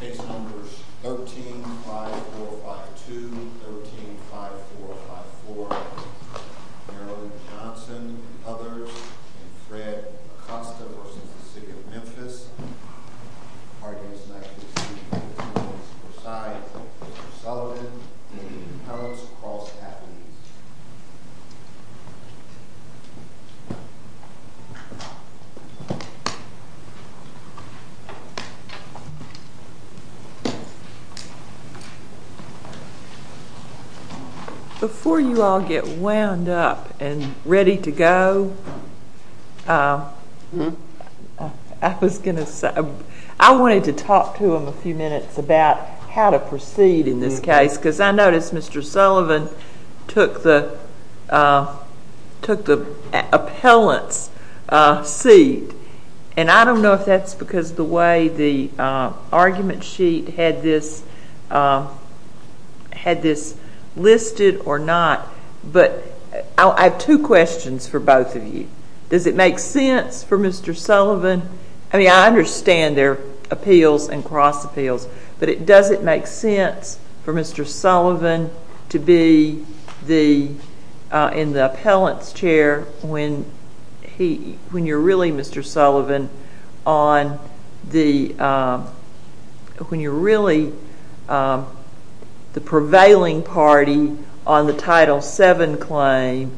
Case numbers 13-5452, 13-5454, Marilyn Johnson and others, and Fred Acosta v. City of Memphis. Our guests tonight this evening are Ms. Prasad, Mr. Sullivan, and your host, Carl Stapp, please. Before you all get wound up and ready to go, I wanted to talk to them a few minutes about how to proceed in this case, because I noticed Mr. Sullivan took the appellant's seat. And I don't know if that's because the way the argument sheet had this listed or not, but I have two questions for both of you. Does it make sense for Mr. Sullivan, I mean I understand their appeals and cross appeals, but does it make sense for Mr. Sullivan to be in the appellant's chair when you're really the prevailing party on the Title VII claim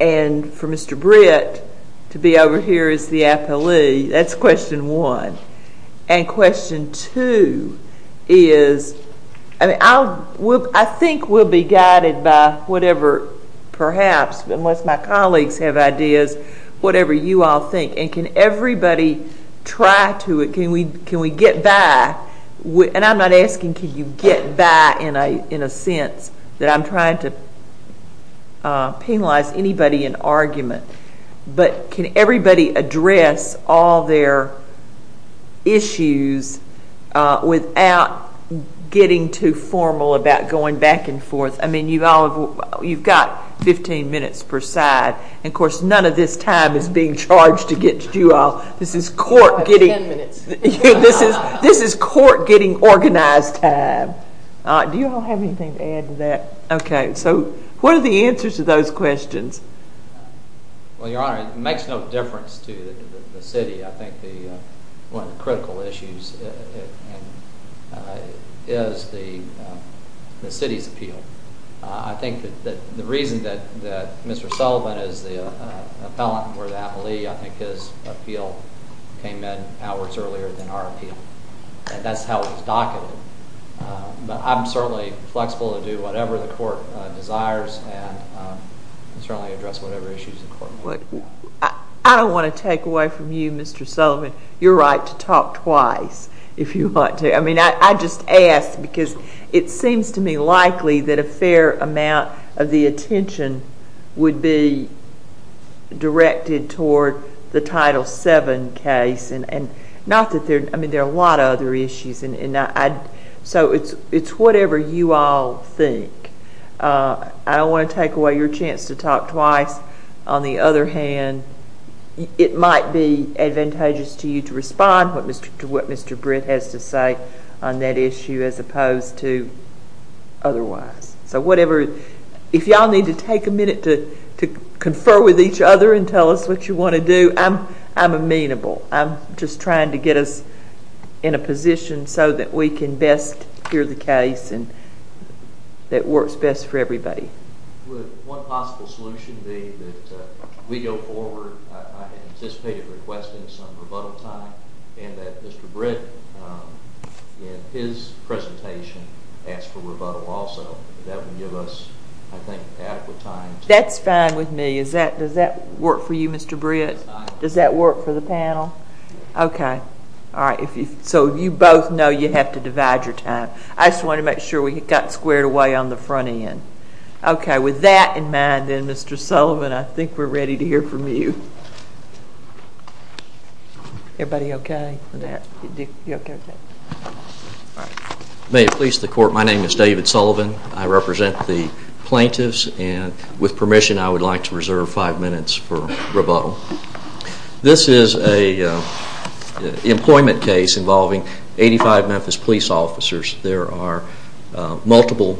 and for Mr. Britt to be over here as the appellee? That's question one. And question two is, I think we'll be guided by whatever, perhaps, unless my colleagues have ideas, whatever you all think. And can everybody try to, can we get by, and I'm not asking can you get by in a sense, that I'm trying to penalize anybody in argument, but can everybody address all their issues without getting too formal about going back and forth. I mean you've got 15 minutes per side, and of course none of this time is being charged against you all. This is court getting organized time. Do you all have anything to add to that? Okay, so what are the answers to those questions? Well, Your Honor, it makes no difference to the city. I think one of the critical issues is the city's appeal. I think that the reason that Mr. Sullivan is the appellant or the appellee, I think his appeal came in hours earlier than our appeal. And that's how it was documented. But I'm certainly flexible to do whatever the court desires and certainly address whatever issues the court. I don't want to take away from you, Mr. Sullivan, your right to talk twice if you want to. I mean I just ask because it seems to me likely that a fair amount of the attention would be directed toward the Title VII case. I mean there are a lot of other issues. So it's whatever you all think. I don't want to take away your chance to talk twice. On the other hand, it might be advantageous to you to respond to what Mr. Britt has to say on that issue as opposed to otherwise. So whatever, if you all need to take a minute to confer with each other and tell us what you want to do, I'm amenable. I'm just trying to get us in a position so that we can best hear the case and it works best for everybody. Would one possible solution be that we go forward, I anticipated requesting some rebuttal time, and that Mr. Britt in his presentation ask for rebuttal also. That would give us, I think, adequate time. That's fine with me. Does that work for you, Mr. Britt? Does that work for the panel? Yes. Okay. Alright. So you both know you have to divide your time. I just wanted to make sure we got squared away on the front end. Okay. With that in mind then, Mr. Sullivan, I think we're ready to hear from you. Everybody okay with that? May it please the court, my name is David Sullivan. I represent the plaintiffs and with permission I would like to reserve five minutes for rebuttal. This is an employment case involving 85 Memphis police officers. There are multiple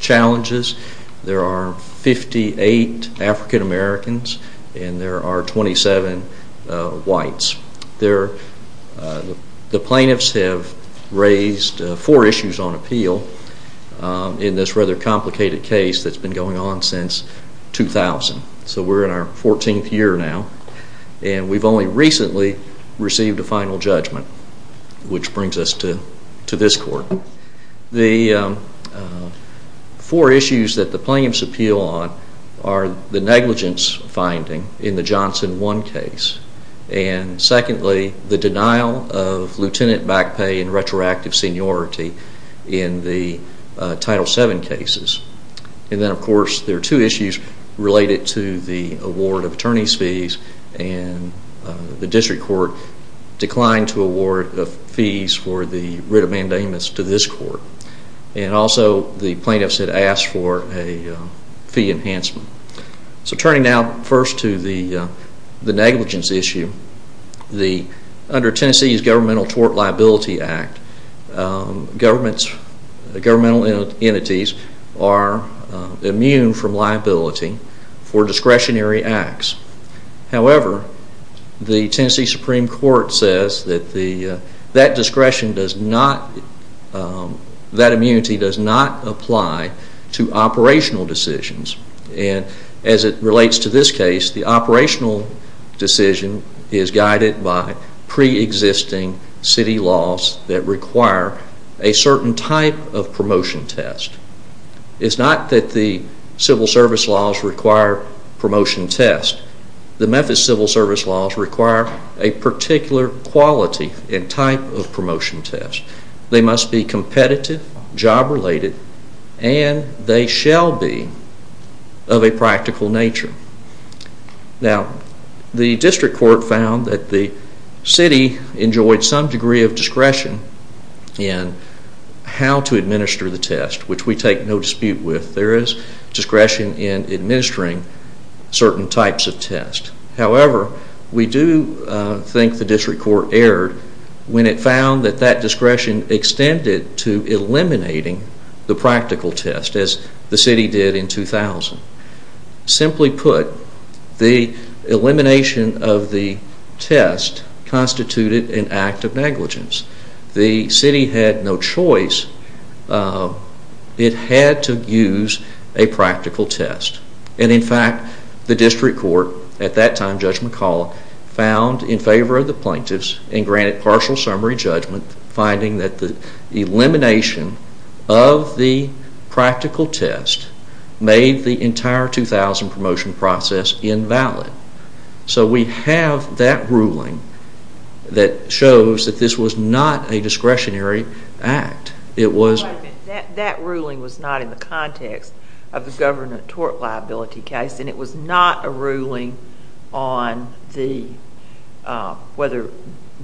challenges. There are 58 African Americans and there are 27 whites. The plaintiffs have raised four issues on appeal in this rather complicated case that's been going on since 2000. So we're in our 14th year now and we've only recently received a final judgment, which brings us to this court. The four issues that the plaintiffs appeal on are the negligence finding in the Johnson 1 case and secondly the denial of lieutenant back pay and retroactive seniority in the Title 7 cases. And then of course there are two issues related to the award of attorney's fees and the district court declined to award the fees for the writ of mandamus to this court. And also the plaintiffs had asked for a fee enhancement. So turning now first to the negligence issue, under Tennessee's Governmental Tort Liability Act, governmental entities are immune from liability for discretionary acts. However, the Tennessee Supreme Court says that that immunity does not apply to operational decisions. And as it relates to this case, the operational decision is guided by pre-existing city laws that require a certain type of promotion test. It's not that the civil service laws require promotion tests. The Memphis civil service laws require a particular quality and type of promotion test. They must be competitive, job related, and they shall be of a practical nature. Now, the district court found that the city enjoyed some degree of discretion in how to administer the test, which we take no dispute with. There is discretion in administering certain types of tests. However, we do think the district court erred when it found that that discretion extended to eliminating the practical test, as the city did in 2000. Simply put, the elimination of the test constituted an act of negligence. The city had no choice. It had to use a practical test. And in fact, the district court, at that time Judge McCall, found in favor of the plaintiffs and granted partial summary judgment finding that the elimination of the practical test made the entire 2000 promotion process invalid. So we have that ruling that shows that this was not a discretionary act. That ruling was not in the context of the government tort liability case, and it was not a ruling on whether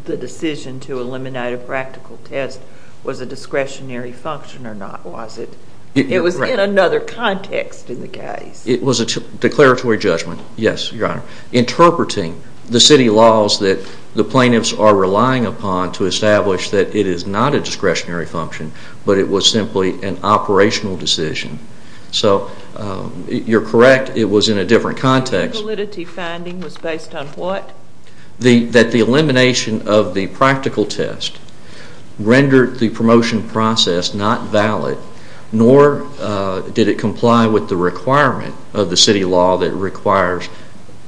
the decision to eliminate a practical test was a discretionary function or not, was it? It was in another context in the case. It was a declaratory judgment, yes, Your Honor, interpreting the city laws that the plaintiffs are relying upon to establish that it is not a discretionary function, but it was simply an operational decision. So you're correct, it was in a different context. The validity finding was based on what? That the elimination of the practical test rendered the promotion process not valid, nor did it comply with the requirement of the city law that requires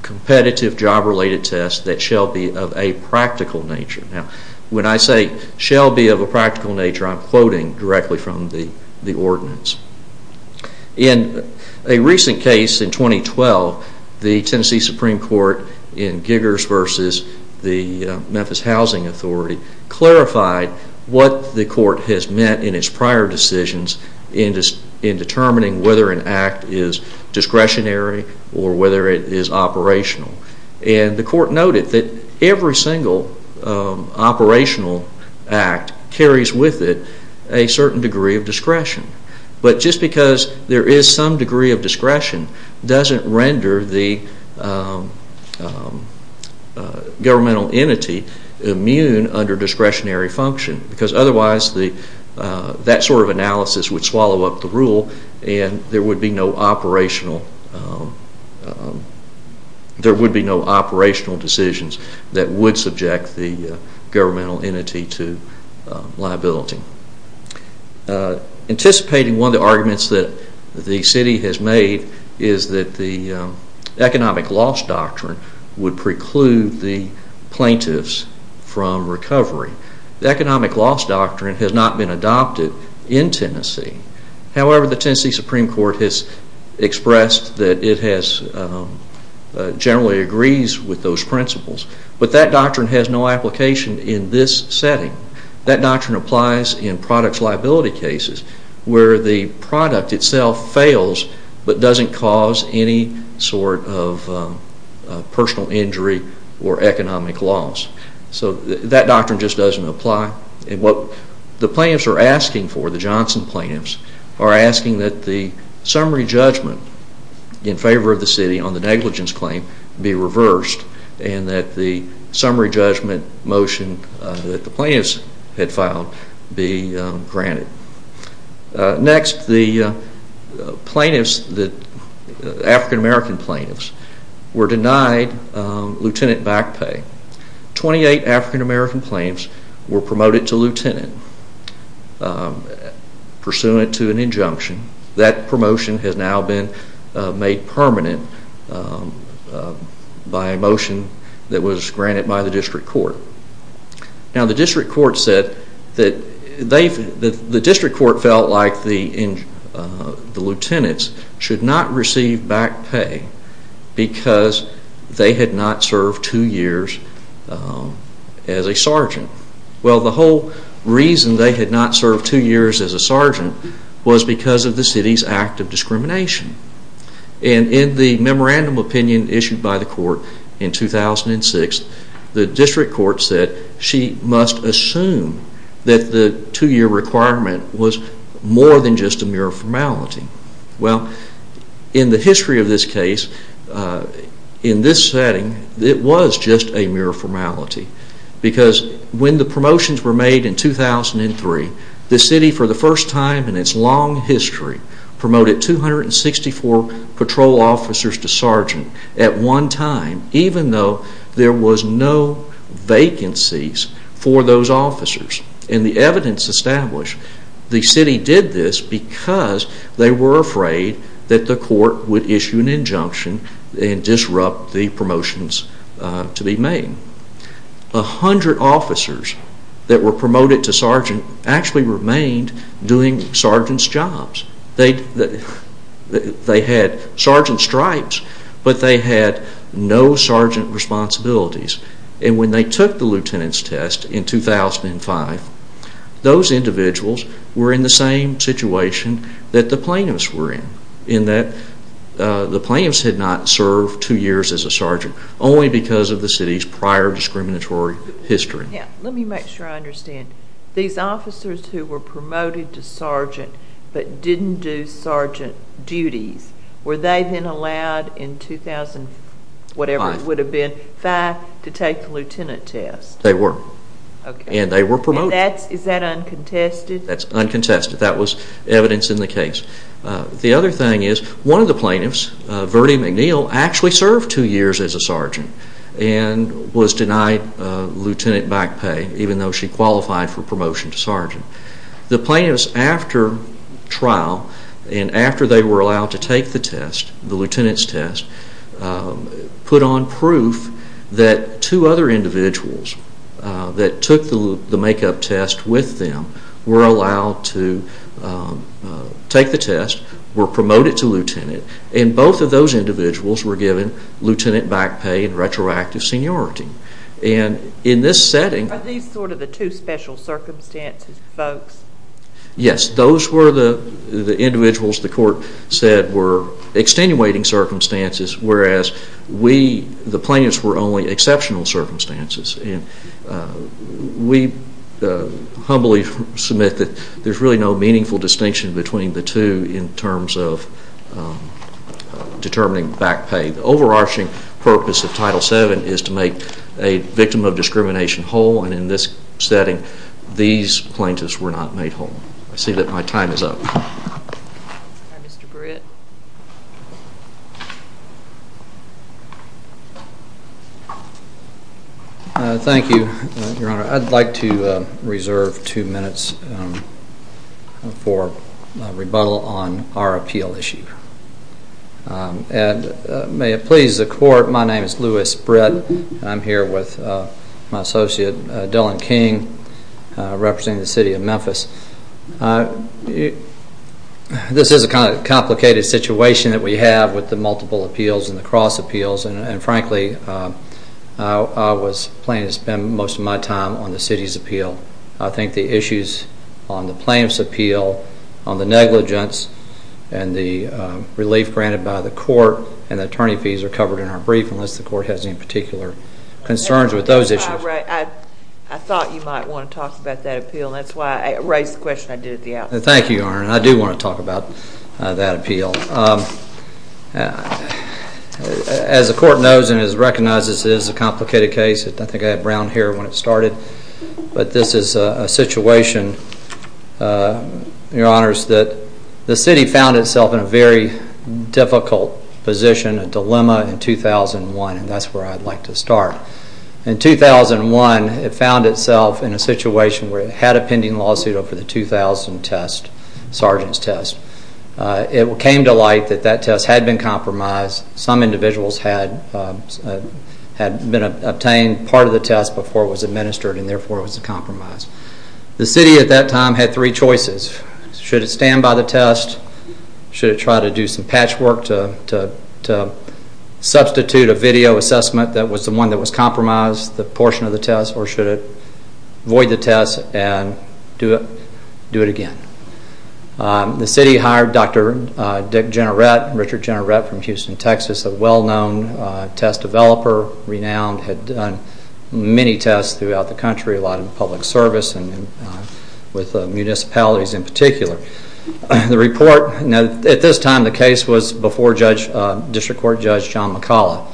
competitive job-related tests that shall be of a practical nature. Now, when I say shall be of a practical nature, I'm quoting directly from the ordinance. In a recent case in 2012, the Tennessee Supreme Court in Giggers v. the Memphis Housing Authority clarified what the court has meant in its prior decisions in determining whether an act is discretionary or whether it is operational. And the court noted that every single operational act carries with it a certain degree of discretion. But just because there is some degree of discretion doesn't render the governmental entity immune under discretionary function, because otherwise that sort of analysis would swallow up the rule and there would be no operational decisions that would subject the governmental entity to liability. Anticipating one of the arguments that the city has made is that the economic loss doctrine would preclude the plaintiffs from recovery. The economic loss doctrine has not been adopted in Tennessee. However, the Tennessee Supreme Court has expressed that it generally agrees with those principles. But that doctrine has no application in this setting. That doctrine applies in products liability cases where the product itself fails but doesn't cause any sort of personal injury or economic loss. So that doctrine just doesn't apply. And what the plaintiffs are asking for, the Johnson plaintiffs, are asking that the summary judgment in favor of the city on the negligence claim be reversed and that the summary judgment motion that the plaintiffs had filed be granted. Next, the African-American plaintiffs were denied lieutenant back pay. Twenty-eight African-American plaintiffs were promoted to lieutenant pursuant to an injunction. That promotion has now been made permanent by a motion that was granted by the district court. Now the district court felt like the lieutenants should not receive back pay because they had not served two years as a sergeant. Well, the whole reason they had not served two years as a sergeant was because of the city's act of discrimination. And in the memorandum opinion issued by the court in 2006, the district court said she must assume that the two-year requirement was more than just a mere formality. Well, in the history of this case, in this setting, it was just a mere formality because when the promotions were made in 2003, the city for the first time in its long history promoted 264 patrol officers to sergeant at one time, even though there was no vacancies for those officers. And the evidence established the city did this because they were afraid that the court would issue an injunction and disrupt the promotions to be made. A hundred officers that were promoted to sergeant actually remained doing sergeant's jobs. They had sergeant stripes, but they had no sergeant responsibilities. And when they took the lieutenant's test in 2005, those individuals were in the same situation that the plaintiffs were in, in that the plaintiffs had not served two years as a sergeant, only because of the city's prior discriminatory history. Let me make sure I understand. These officers who were promoted to sergeant but didn't do sergeant duties, were they then allowed in 2005 to take the lieutenant test? They were. And they were promoted. Is that uncontested? That's uncontested. That was evidence in the case. The other thing is one of the plaintiffs, Verdi McNeil, actually served two years as a sergeant and was denied lieutenant back pay even though she qualified for promotion to sergeant. The plaintiffs after trial and after they were allowed to take the test, the lieutenant's test, put on proof that two other individuals that took the make-up test with them were allowed to take the test, were promoted to lieutenant, and both of those individuals were given lieutenant back pay and retroactive seniority. Are these sort of the two special circumstances, folks? Yes, those were the individuals the court said were extenuating circumstances, whereas the plaintiffs were only exceptional circumstances. We humbly submit that there's really no meaningful distinction between the two in terms of determining back pay. The overarching purpose of Title VII is to make a victim of discrimination whole, and in this setting, these plaintiffs were not made whole. I see that my time is up. Mr. Britt. Thank you, Your Honor. I'd like to reserve two minutes for rebuttal on our appeal issue. And may it please the court, my name is Louis Britt. I'm here with my associate, Dillon King, representing the city of Memphis. This is a kind of complicated situation that we have with the multiple appeals and the cross appeals, and frankly, I was planning to spend most of my time on the city's appeal. I think the issues on the plaintiff's appeal, on the negligence, and the relief granted by the court and the attorney fees are covered in our brief, unless the court has any particular concerns with those issues. I thought you might want to talk about that appeal. That's why I raised the question I did at the outset. Thank you, Your Honor. I do want to talk about that appeal. As the court knows and has recognized, this is a complicated case. I think I had Brown here when it started. But this is a situation, Your Honors, that the city found itself in a very difficult position, a dilemma in 2001, and that's where I'd like to start. In 2001, it found itself in a situation where it had a pending lawsuit over the 2000 test, sergeant's test. It came to light that that test had been compromised. Some individuals had obtained part of the test before it was administered and therefore it was compromised. The city at that time had three choices. Should it stand by the test? Should it try to do some patchwork to substitute a video assessment that was the one that was compromised, the portion of the test, or should it void the test and do it again? The city hired Dr. Dick Jennerett, Richard Jennerett from Houston, Texas, a well-known test developer, renowned, had done many tests throughout the country, a lot in public service and with municipalities in particular. The report, at this time the case was before District Court Judge John McCalla.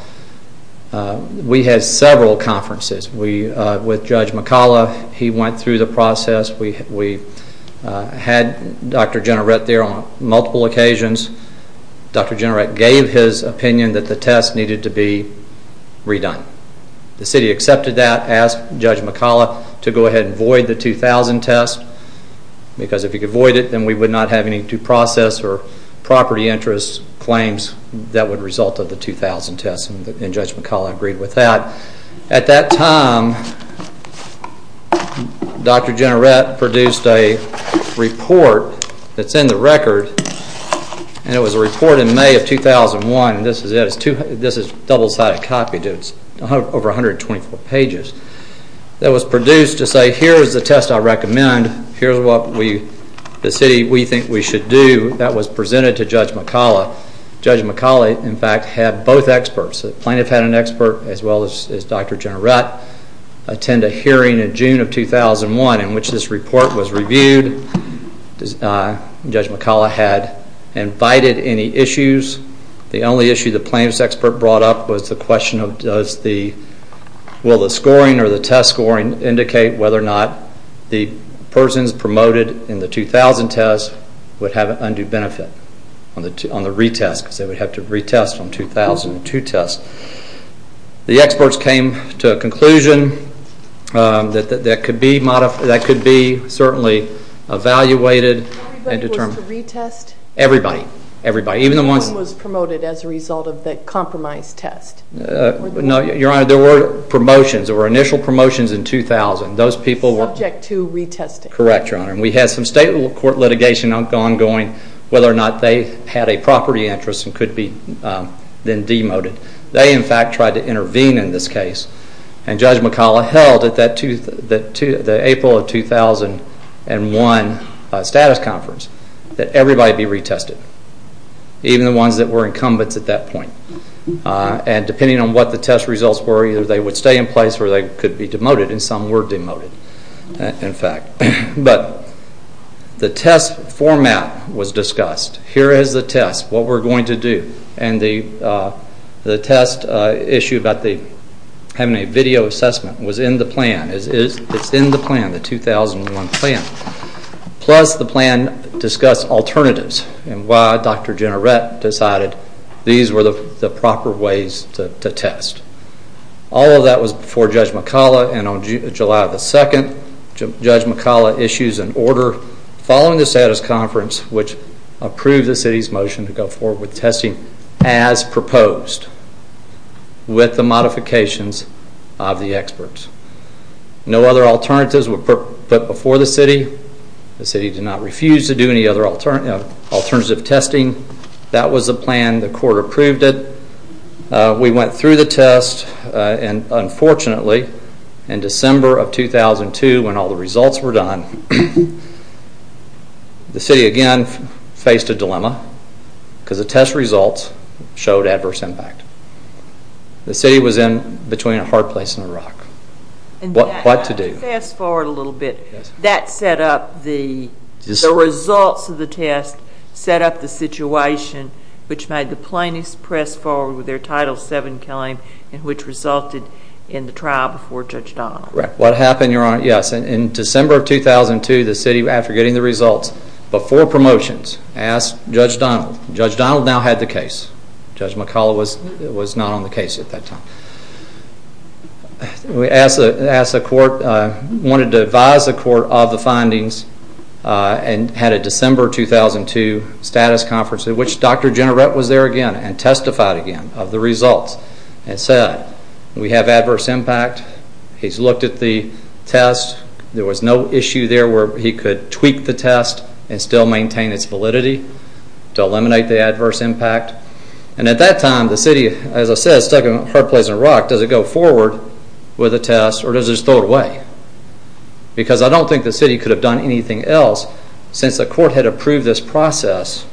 We had several conferences with Judge McCalla. He went through the process. We had Dr. Jennerett there on multiple occasions. Dr. Jennerett gave his opinion that the test needed to be redone. The city accepted that, asked Judge McCalla to go ahead and void the 2000 test because if he could void it, then we would not have any due process or property interest claims that would result of the 2000 test, and Judge McCalla agreed with that. At that time, Dr. Jennerett produced a report that's in the record. It was a report in May of 2001. This is double-sided copy. It's over 124 pages. It was produced to say, here's the test I recommend. Here's what the city thinks we should do. That was presented to Judge McCalla. Judge McCalla, in fact, had both experts. The plaintiff had an expert as well as Dr. Jennerett attend a hearing in June of 2001 in which this report was reviewed. Judge McCalla had invited any issues. The only issue the plaintiff's expert brought up was the question of will the scoring or the test scoring indicate whether or not the persons promoted in the 2000 test would have an undue benefit on the retest because they would have to retest on the 2002 test. The experts came to a conclusion that that could be evaluated and determined. Everybody was to retest? Everybody. No one was promoted as a result of the compromised test? No, Your Honor. There were initial promotions in 2000. Subject to retesting? Correct, Your Honor. We had some state court litigation ongoing whether or not they had a property interest and could be then demoted. They, in fact, tried to intervene in this case. Judge McCalla held at the April of 2001 status conference that everybody be retested, even the ones that were incumbents at that point. Depending on what the test results were, either they would stay in place or they could be demoted and some were demoted, in fact. But the test format was discussed. Here is the test, what we're going to do. And the test issue about having a video assessment was in the plan. It's in the plan, the 2001 plan. Plus the plan discussed alternatives and why Dr. Gennarette decided these were the proper ways to test. All of that was before Judge McCalla, and on July 2, Judge McCalla issues an order following the status conference which approved the city's motion to go forward with testing as proposed with the modifications of the experts. No other alternatives were put before the city. The city did not refuse to do any other alternative testing. That was the plan. The court approved it. We went through the test, and unfortunately in December of 2002 when all the results were done, the city again faced a dilemma because the test results showed adverse impact. The city was in between a hard place and a rock. What to do? Fast forward a little bit. That set up the results of the test, set up the situation which made the plaintiffs press forward with their Title VII claim and which resulted in the trial before Judge Donald. Correct. What happened, Your Honor? Yes, in December of 2002, the city, after getting the results, before promotions, asked Judge Donald. Judge Donald now had the case. Judge McCalla was not on the case at that time. We asked the court, wanted to advise the court of the findings and had a December 2002 status conference in which Dr. Gennarette was there again and testified again of the results and said we have adverse impact. He's looked at the test. There was no issue there where he could tweak the test and still maintain its validity to eliminate the adverse impact. At that time, the city, as I said, stuck in a hard place and a rock. Does it go forward with a test or does it just throw it away? Because I don't think the city could have done anything else since the court had approved this process.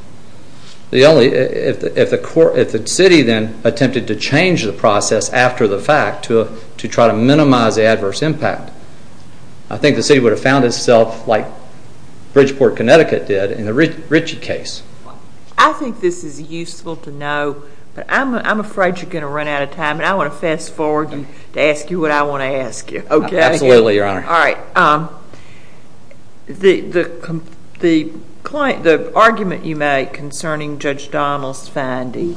If the city then attempted to change the process after the fact to try to minimize the adverse impact, I think the city would have found itself like Bridgeport, Connecticut did in the Ritchie case. I think this is useful to know. I'm afraid you're going to run out of time and I want to fast forward to ask you what I want to ask you. Absolutely, Your Honor. The argument you make concerning Judge Donald's finding,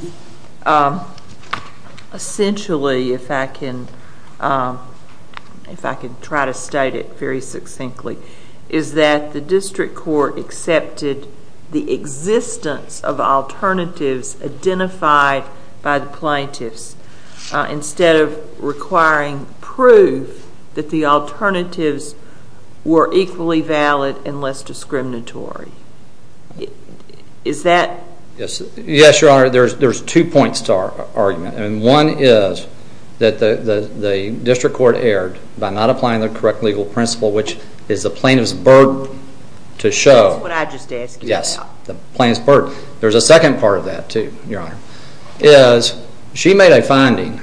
essentially, if I can try to state it very succinctly, is that the district court accepted the existence of alternatives identified by the plaintiffs instead of requiring proof that the alternatives were equally valid and less discriminatory. Is that... Yes, Your Honor. There's two points to our argument. One is that the district court erred by not applying the correct legal principle, which is the plaintiff's burden to show. That's what I just asked you about. Yes, the plaintiff's burden. There's a second part of that, too, Your Honor. She made a finding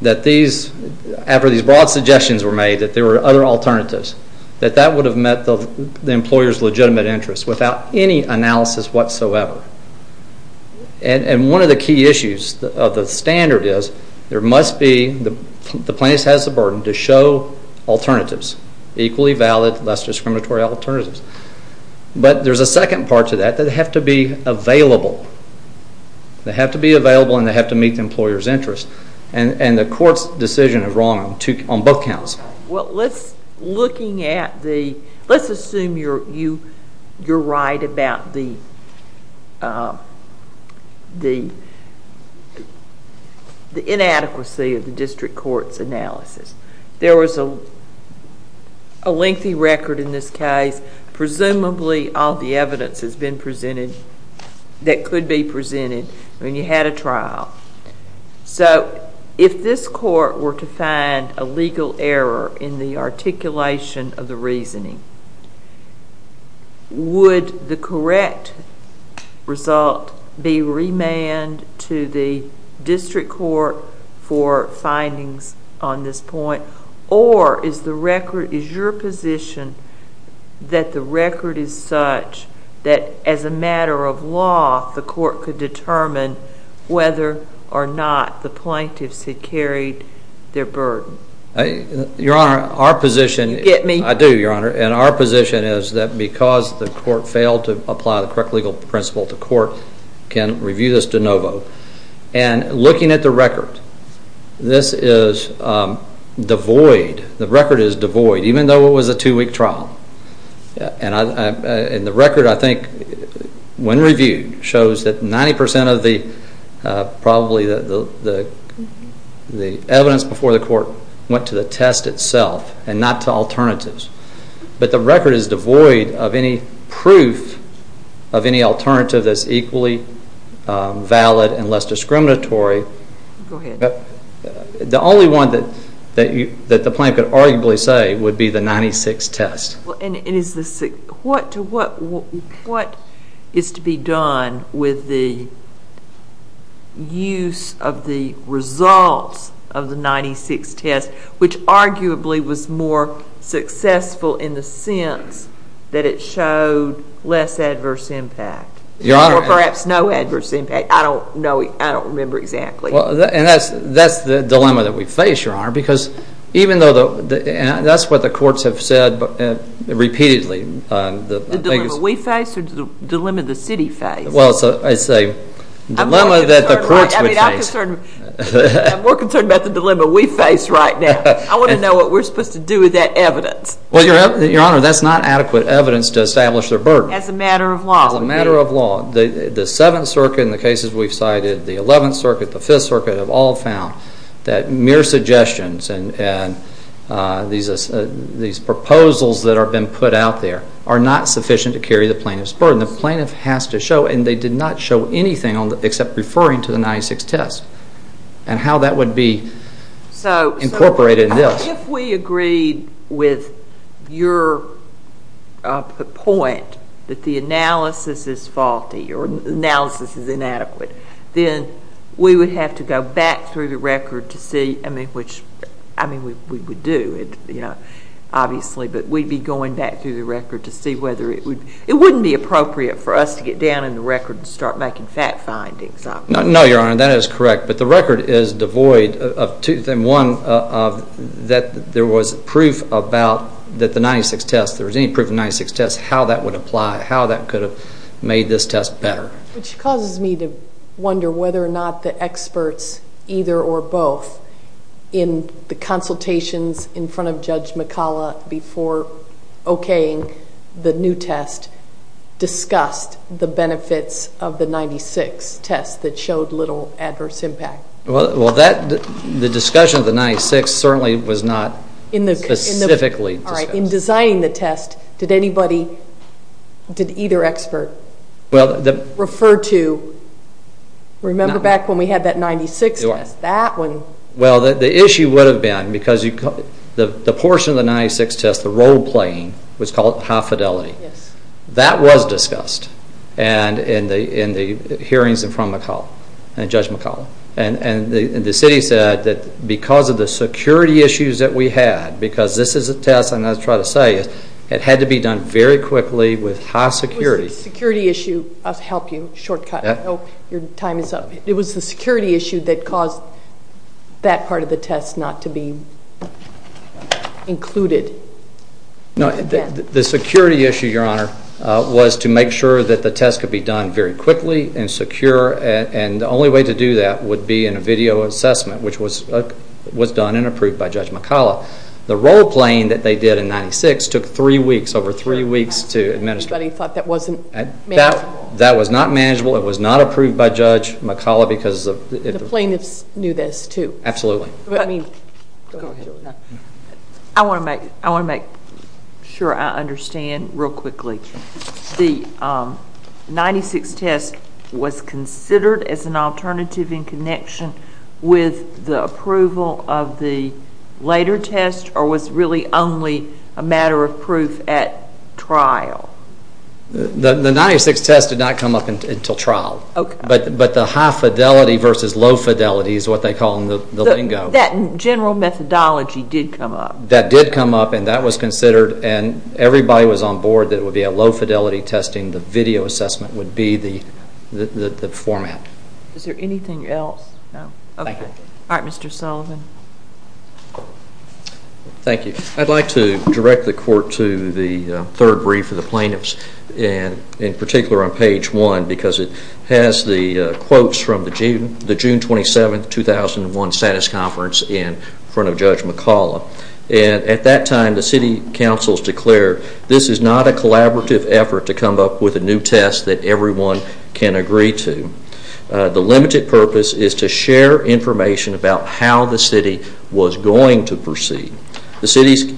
that these... after these broad suggestions were made that there were other alternatives, that that would have met the employer's legitimate interest without any analysis whatsoever. And one of the key issues of the standard is there must be...the plaintiff has the burden to show alternatives, equally valid, less discriminatory alternatives. But there's a second part to that that they have to be available. They have to be available and they have to meet the employer's interest. And the court's decision is wrong on both counts. Well, let's...looking at the... Let's assume you're right about the... the inadequacy of the district court's analysis. There was a lengthy record in this case. Presumably, all the evidence has been presented... that could be presented when you had a trial. So, if this court were to find a legal error in the articulation of the reasoning, would the correct result be remanded to the district court for findings on this point, or is the record...is your position that the record is such that, as a matter of law, the court could determine whether or not the plaintiffs had carried their burden? Your Honor, our position... Get me. I do, Your Honor. And our position is that because the court failed to apply the correct legal principle, the court can review this de novo. And looking at the record, this is devoid. The record is devoid, even though it was a 2-week trial. And the record, I think, when reviewed, shows that 90% of the... probably the evidence before the court went to the test itself and not to alternatives. But the record is devoid of any proof of any alternative that's equally valid and less discriminatory. Go ahead. The only one that the plaintiff could arguably say would be the 96 test. And what is to be done with the use of the results of the 96 test, which arguably was more successful in the sense that it showed less adverse impact? Your Honor... Or perhaps no adverse impact. I don't know. I don't remember exactly. And that's the dilemma that we face, Your Honor, because even though... That's what the courts have said repeatedly. The dilemma we face or the dilemma the city face? Well, it's a dilemma that the courts would face. I'm more concerned about the dilemma we face right now. I want to know what we're supposed to do with that evidence. Well, Your Honor, that's not adequate evidence to establish their burden. As a matter of law. As a matter of law. The Seventh Circuit, in the cases we've cited, the Eleventh Circuit, the Fifth Circuit, have all found that mere suggestions and these proposals that have been put out there are not sufficient to carry the plaintiff's burden. The plaintiff has to show, and they did not show anything except referring to the 96 test and how that would be incorporated in this. If we agreed with your point that the analysis is faulty or the analysis is inadequate, then we would have to go back through the record to see... I mean, we would do it, obviously, but we'd be going back through the record to see whether it would... It wouldn't be appropriate for us to get down in the record and start making fact findings. No, Your Honor, that is correct. But the record is devoid of two things. One, that there was proof about that the 96 test, if there was any proof of the 96 test, how that would apply, how that could have made this test better. Which causes me to wonder whether or not the experts, either or both, in the consultations in front of Judge McCalla before okaying the new test, discussed the benefits of the 96 test that showed little adverse impact. Well, the discussion of the 96 certainly was not specifically discussed. In designing the test, did either expert refer to... Remember back when we had that 96 test, that one... Well, the issue would have been, because the portion of the 96 test, the role playing, was called high fidelity. That was discussed in the hearings in front of Judge McCalla. And the city said that because of the security issues that we had, because this is a test, and I try to say it, it had to be done very quickly with high security. It was the security issue... I'll help you, shortcut. Your time is up. It was the security issue that caused that part of the test not to be included. No, the security issue, Your Honor, was to make sure that the test could be done very quickly and secure. And the only way to do that would be in a video assessment, which was done and approved by Judge McCalla. The role playing that they did in 96 took three weeks, over three weeks to administer. But he thought that wasn't manageable. That was not manageable. It was not approved by Judge McCalla because... The plaintiffs knew this too. Absolutely. Go ahead, Julie. I want to make sure I understand real quickly. The 96 test was considered as an alternative in connection with the approval of the later test or was really only a matter of proof at trial? The 96 test did not come up until trial. Okay. But the high fidelity versus low fidelity is what they call the lingo. That general methodology did come up. That did come up and that was considered and everybody was on board that it would be a low fidelity testing. The video assessment would be the format. Is there anything else? No. Okay. All right, Mr. Sullivan. Thank you. I'd like to direct the Court to the third brief of the plaintiffs, in particular on page one, because it has the quotes from the June 27, 2001, status conference in front of Judge McCalla. At that time, the City Council has declared this is not a collaborative effort to come up with a new test that everyone can agree to. The limited purpose is to share information about how the City was going to proceed. The City's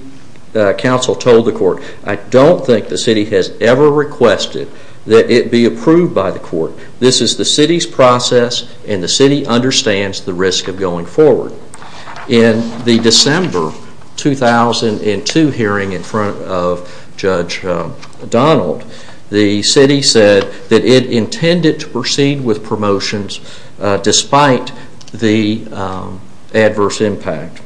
Council told the Court, I don't think the City has ever requested that it be approved by the Court. This is the City's process and the City understands the risk of going forward. In the December 2002 hearing in front of Judge Donald, the City said that it intended to proceed with promotions despite the adverse impact.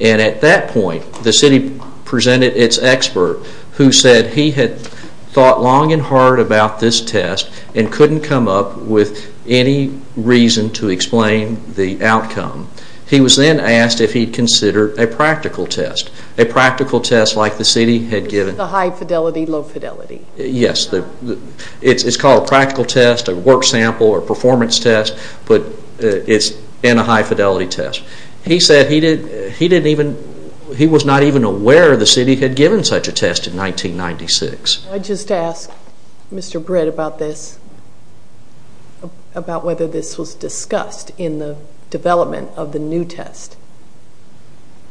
And at that point, the City presented its expert who said he had thought long and hard about this test and couldn't come up with any reason to explain the outcome. He was then asked if he'd consider a practical test, a practical test like the City had given. The high fidelity, low fidelity. Yes, it's called a practical test, a work sample, a performance test, but it's in a high fidelity test. He said he was not even aware the City had given such a test in 1996. I'd just ask Mr. Britt about this, about whether this was discussed in the development of the new test.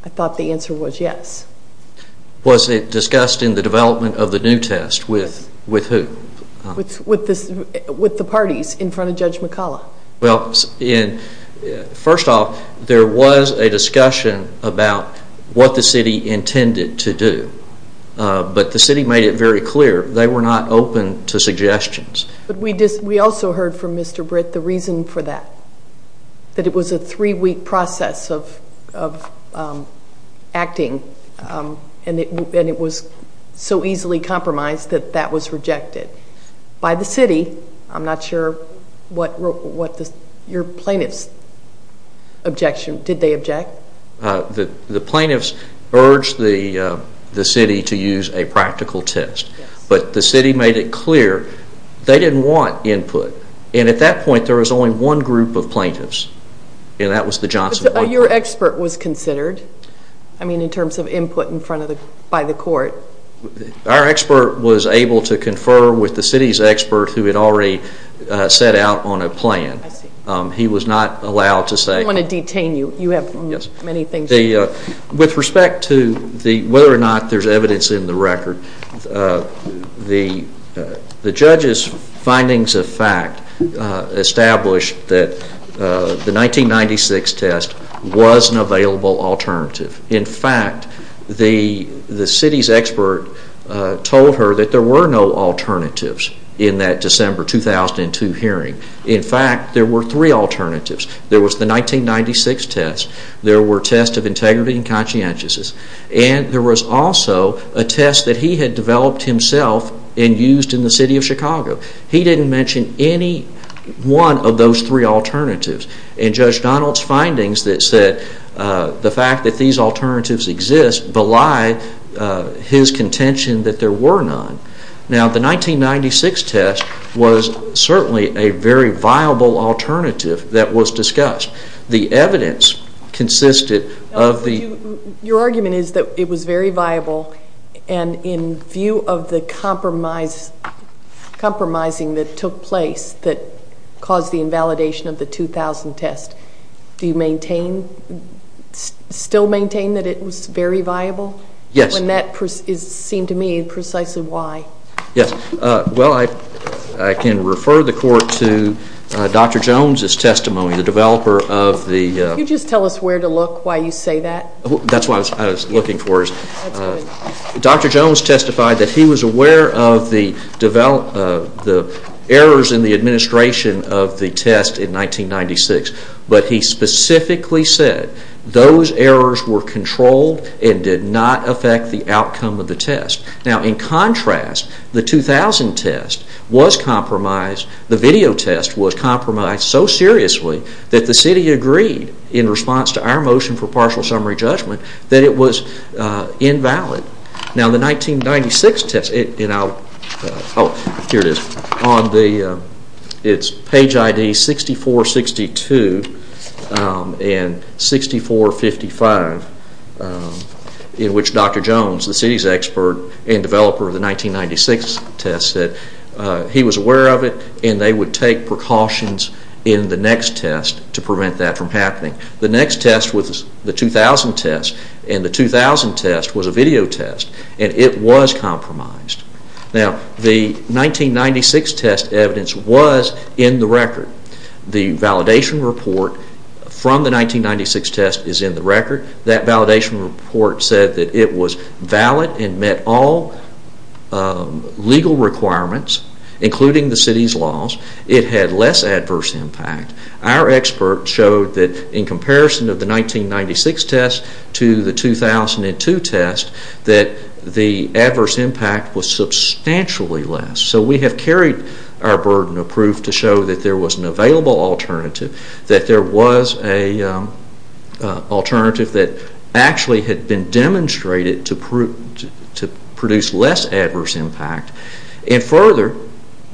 I thought the answer was yes. Was it discussed in the development of the new test with who? With the parties in front of Judge McCullough. Well, first off, there was a discussion about what the City intended to do, but the City made it very clear they were not open to suggestions. But we also heard from Mr. Britt the reason for that, that it was a three-week process of acting and it was so easily compromised that that was rejected by the City. I'm not sure what your plaintiff's objection, did they object? The plaintiffs urged the City to use a practical test, but the City made it clear they didn't want input, and at that point there was only one group of plaintiffs, and that was the Johnson Group. So your expert was considered, I mean, in terms of input by the court? Our expert was able to confer with the City's expert who had already set out on a plan. I see. He was not allowed to say... I don't want to detain you. You have many things to say. With respect to whether or not there's evidence in the record, the Judge's findings of fact established that the 1996 test was an available alternative. In fact, the City's expert told her that there were no alternatives in that December 2002 hearing. In fact, there were three alternatives. There was the 1996 test, there were tests of integrity and conscientiousness, and there was also a test that he had developed himself and used in the City of Chicago. He didn't mention any one of those three alternatives, and Judge Donald's findings that said the fact that these alternatives exist belie his contention that there were none. Now, the 1996 test was certainly a very viable alternative that was discussed. The evidence consisted of the... Your argument is that it was very viable, and in view of the compromising that took place that caused the invalidation of the 2000 test, do you still maintain that it was very viable? Yes. When that is seen to me, precisely why? Yes. Well, I can refer the Court to Dr. Jones' testimony, the developer of the... Can you just tell us where to look, why you say that? That's what I was looking for. Dr. Jones testified that he was aware of the errors in the administration of the test in 1996, but he specifically said those errors were controlled and did not affect the outcome of the test. Now, in contrast, the 2000 test was compromised, the video test was compromised so seriously that the City agreed, in response to our motion for partial summary judgment, that it was invalid. Now, the 1996 test, and I'll... Oh, here it is. It's page ID 6462 and 6455, in which Dr. Jones, the City's expert and developer of the 1996 test, said he was aware of it and they would take precautions in the next test to prevent that from happening. The next test was the 2000 test, and the 2000 test was a video test, and it was compromised. Now, the 1996 test evidence was in the record. The validation report from the 1996 test is in the record. That validation report said that it was valid and met all legal requirements, including the City's laws. It had less adverse impact. Our experts showed that, in comparison of the 1996 test to the 2002 test, that the adverse impact was substantially less. So we have carried our burden of proof to show that there was an available alternative, that there was an alternative that actually had been demonstrated to produce less adverse impact, and further,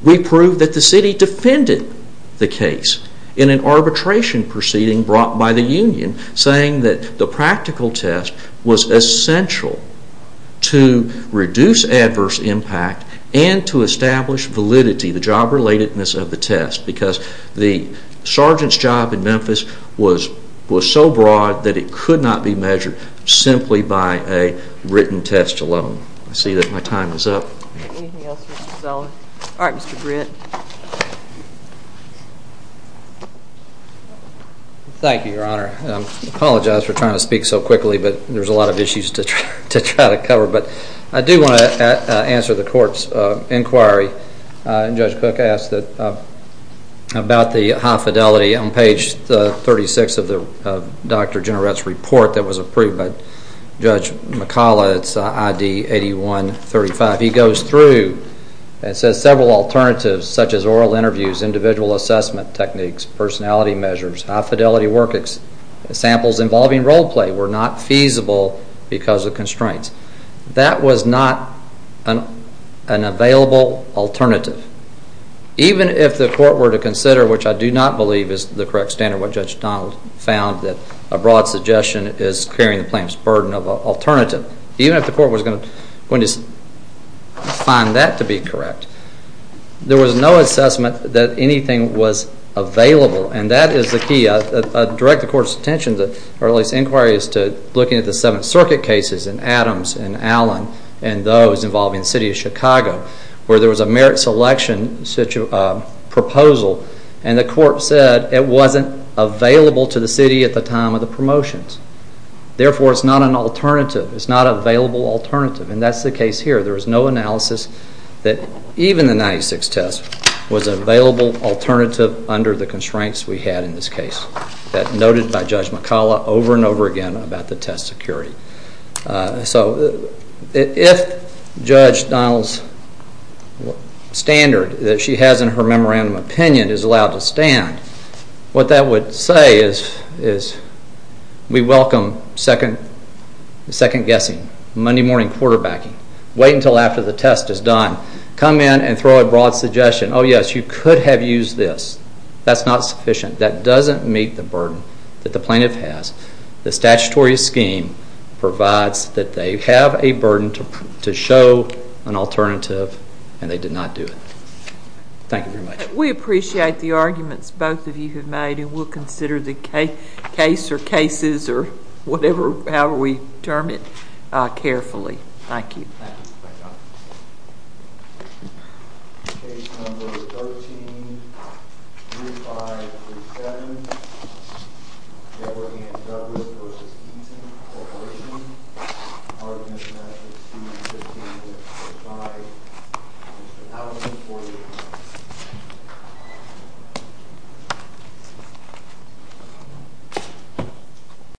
we proved that the City defended the case in an arbitration proceeding brought by the Union, saying that the practical test was essential to reduce adverse impact and to establish validity, the job relatedness of the test, because the sergeant's job in Memphis was so broad that it could not be measured simply by a written test alone. I see that my time is up. Anything else, Mr. Zeller? All right, Mr. Britt. Thank you, Your Honor. I apologize for trying to speak so quickly, but there's a lot of issues to try to cover. But I do want to answer the Court's inquiry, and Judge Cook asked about the high fidelity. On page 36 of Dr. Jenrette's report that was approved by Judge McCullough, it's ID 8135, he goes through and says several alternatives, such as oral interviews, individual assessment techniques, personality measures, high fidelity work samples involving role play were not feasible because of constraints. That was not an available alternative. Even if the Court were to consider, which I do not believe is the correct standard, what Judge Donald found that a broad suggestion is carrying the plaintiff's burden of an alternative, even if the Court was going to find that to be correct, there was no assessment that anything was available. And that is the key. I direct the Court's attention, or at least inquiry, is to looking at the Seventh Circuit cases in Adams and Allen and those involving the City of Chicago where there was a merit selection proposal and the Court said it wasn't available to the City at the time of the promotions. Therefore, it's not an alternative. It's not an available alternative, and that's the case here. There was no analysis that even the 96 test was an available alternative under the constraints we had in this case. That's noted by Judge McCullough over and over again about the test security. So if Judge Donald's standard that she has in her memorandum of opinion is allowed to stand, what that would say is we welcome second-guessing, Monday-morning quarterbacking. Wait until after the test is done. Come in and throw a broad suggestion. Oh, yes, you could have used this. That's not sufficient. That doesn't meet the burden that the plaintiff has. The statutory scheme provides that they have a burden to show an alternative, and they did not do it. Thank you very much. We appreciate the arguments both of you have made, and we'll consider the case or cases or whatever, however we term it, carefully. Thank you. Thank you.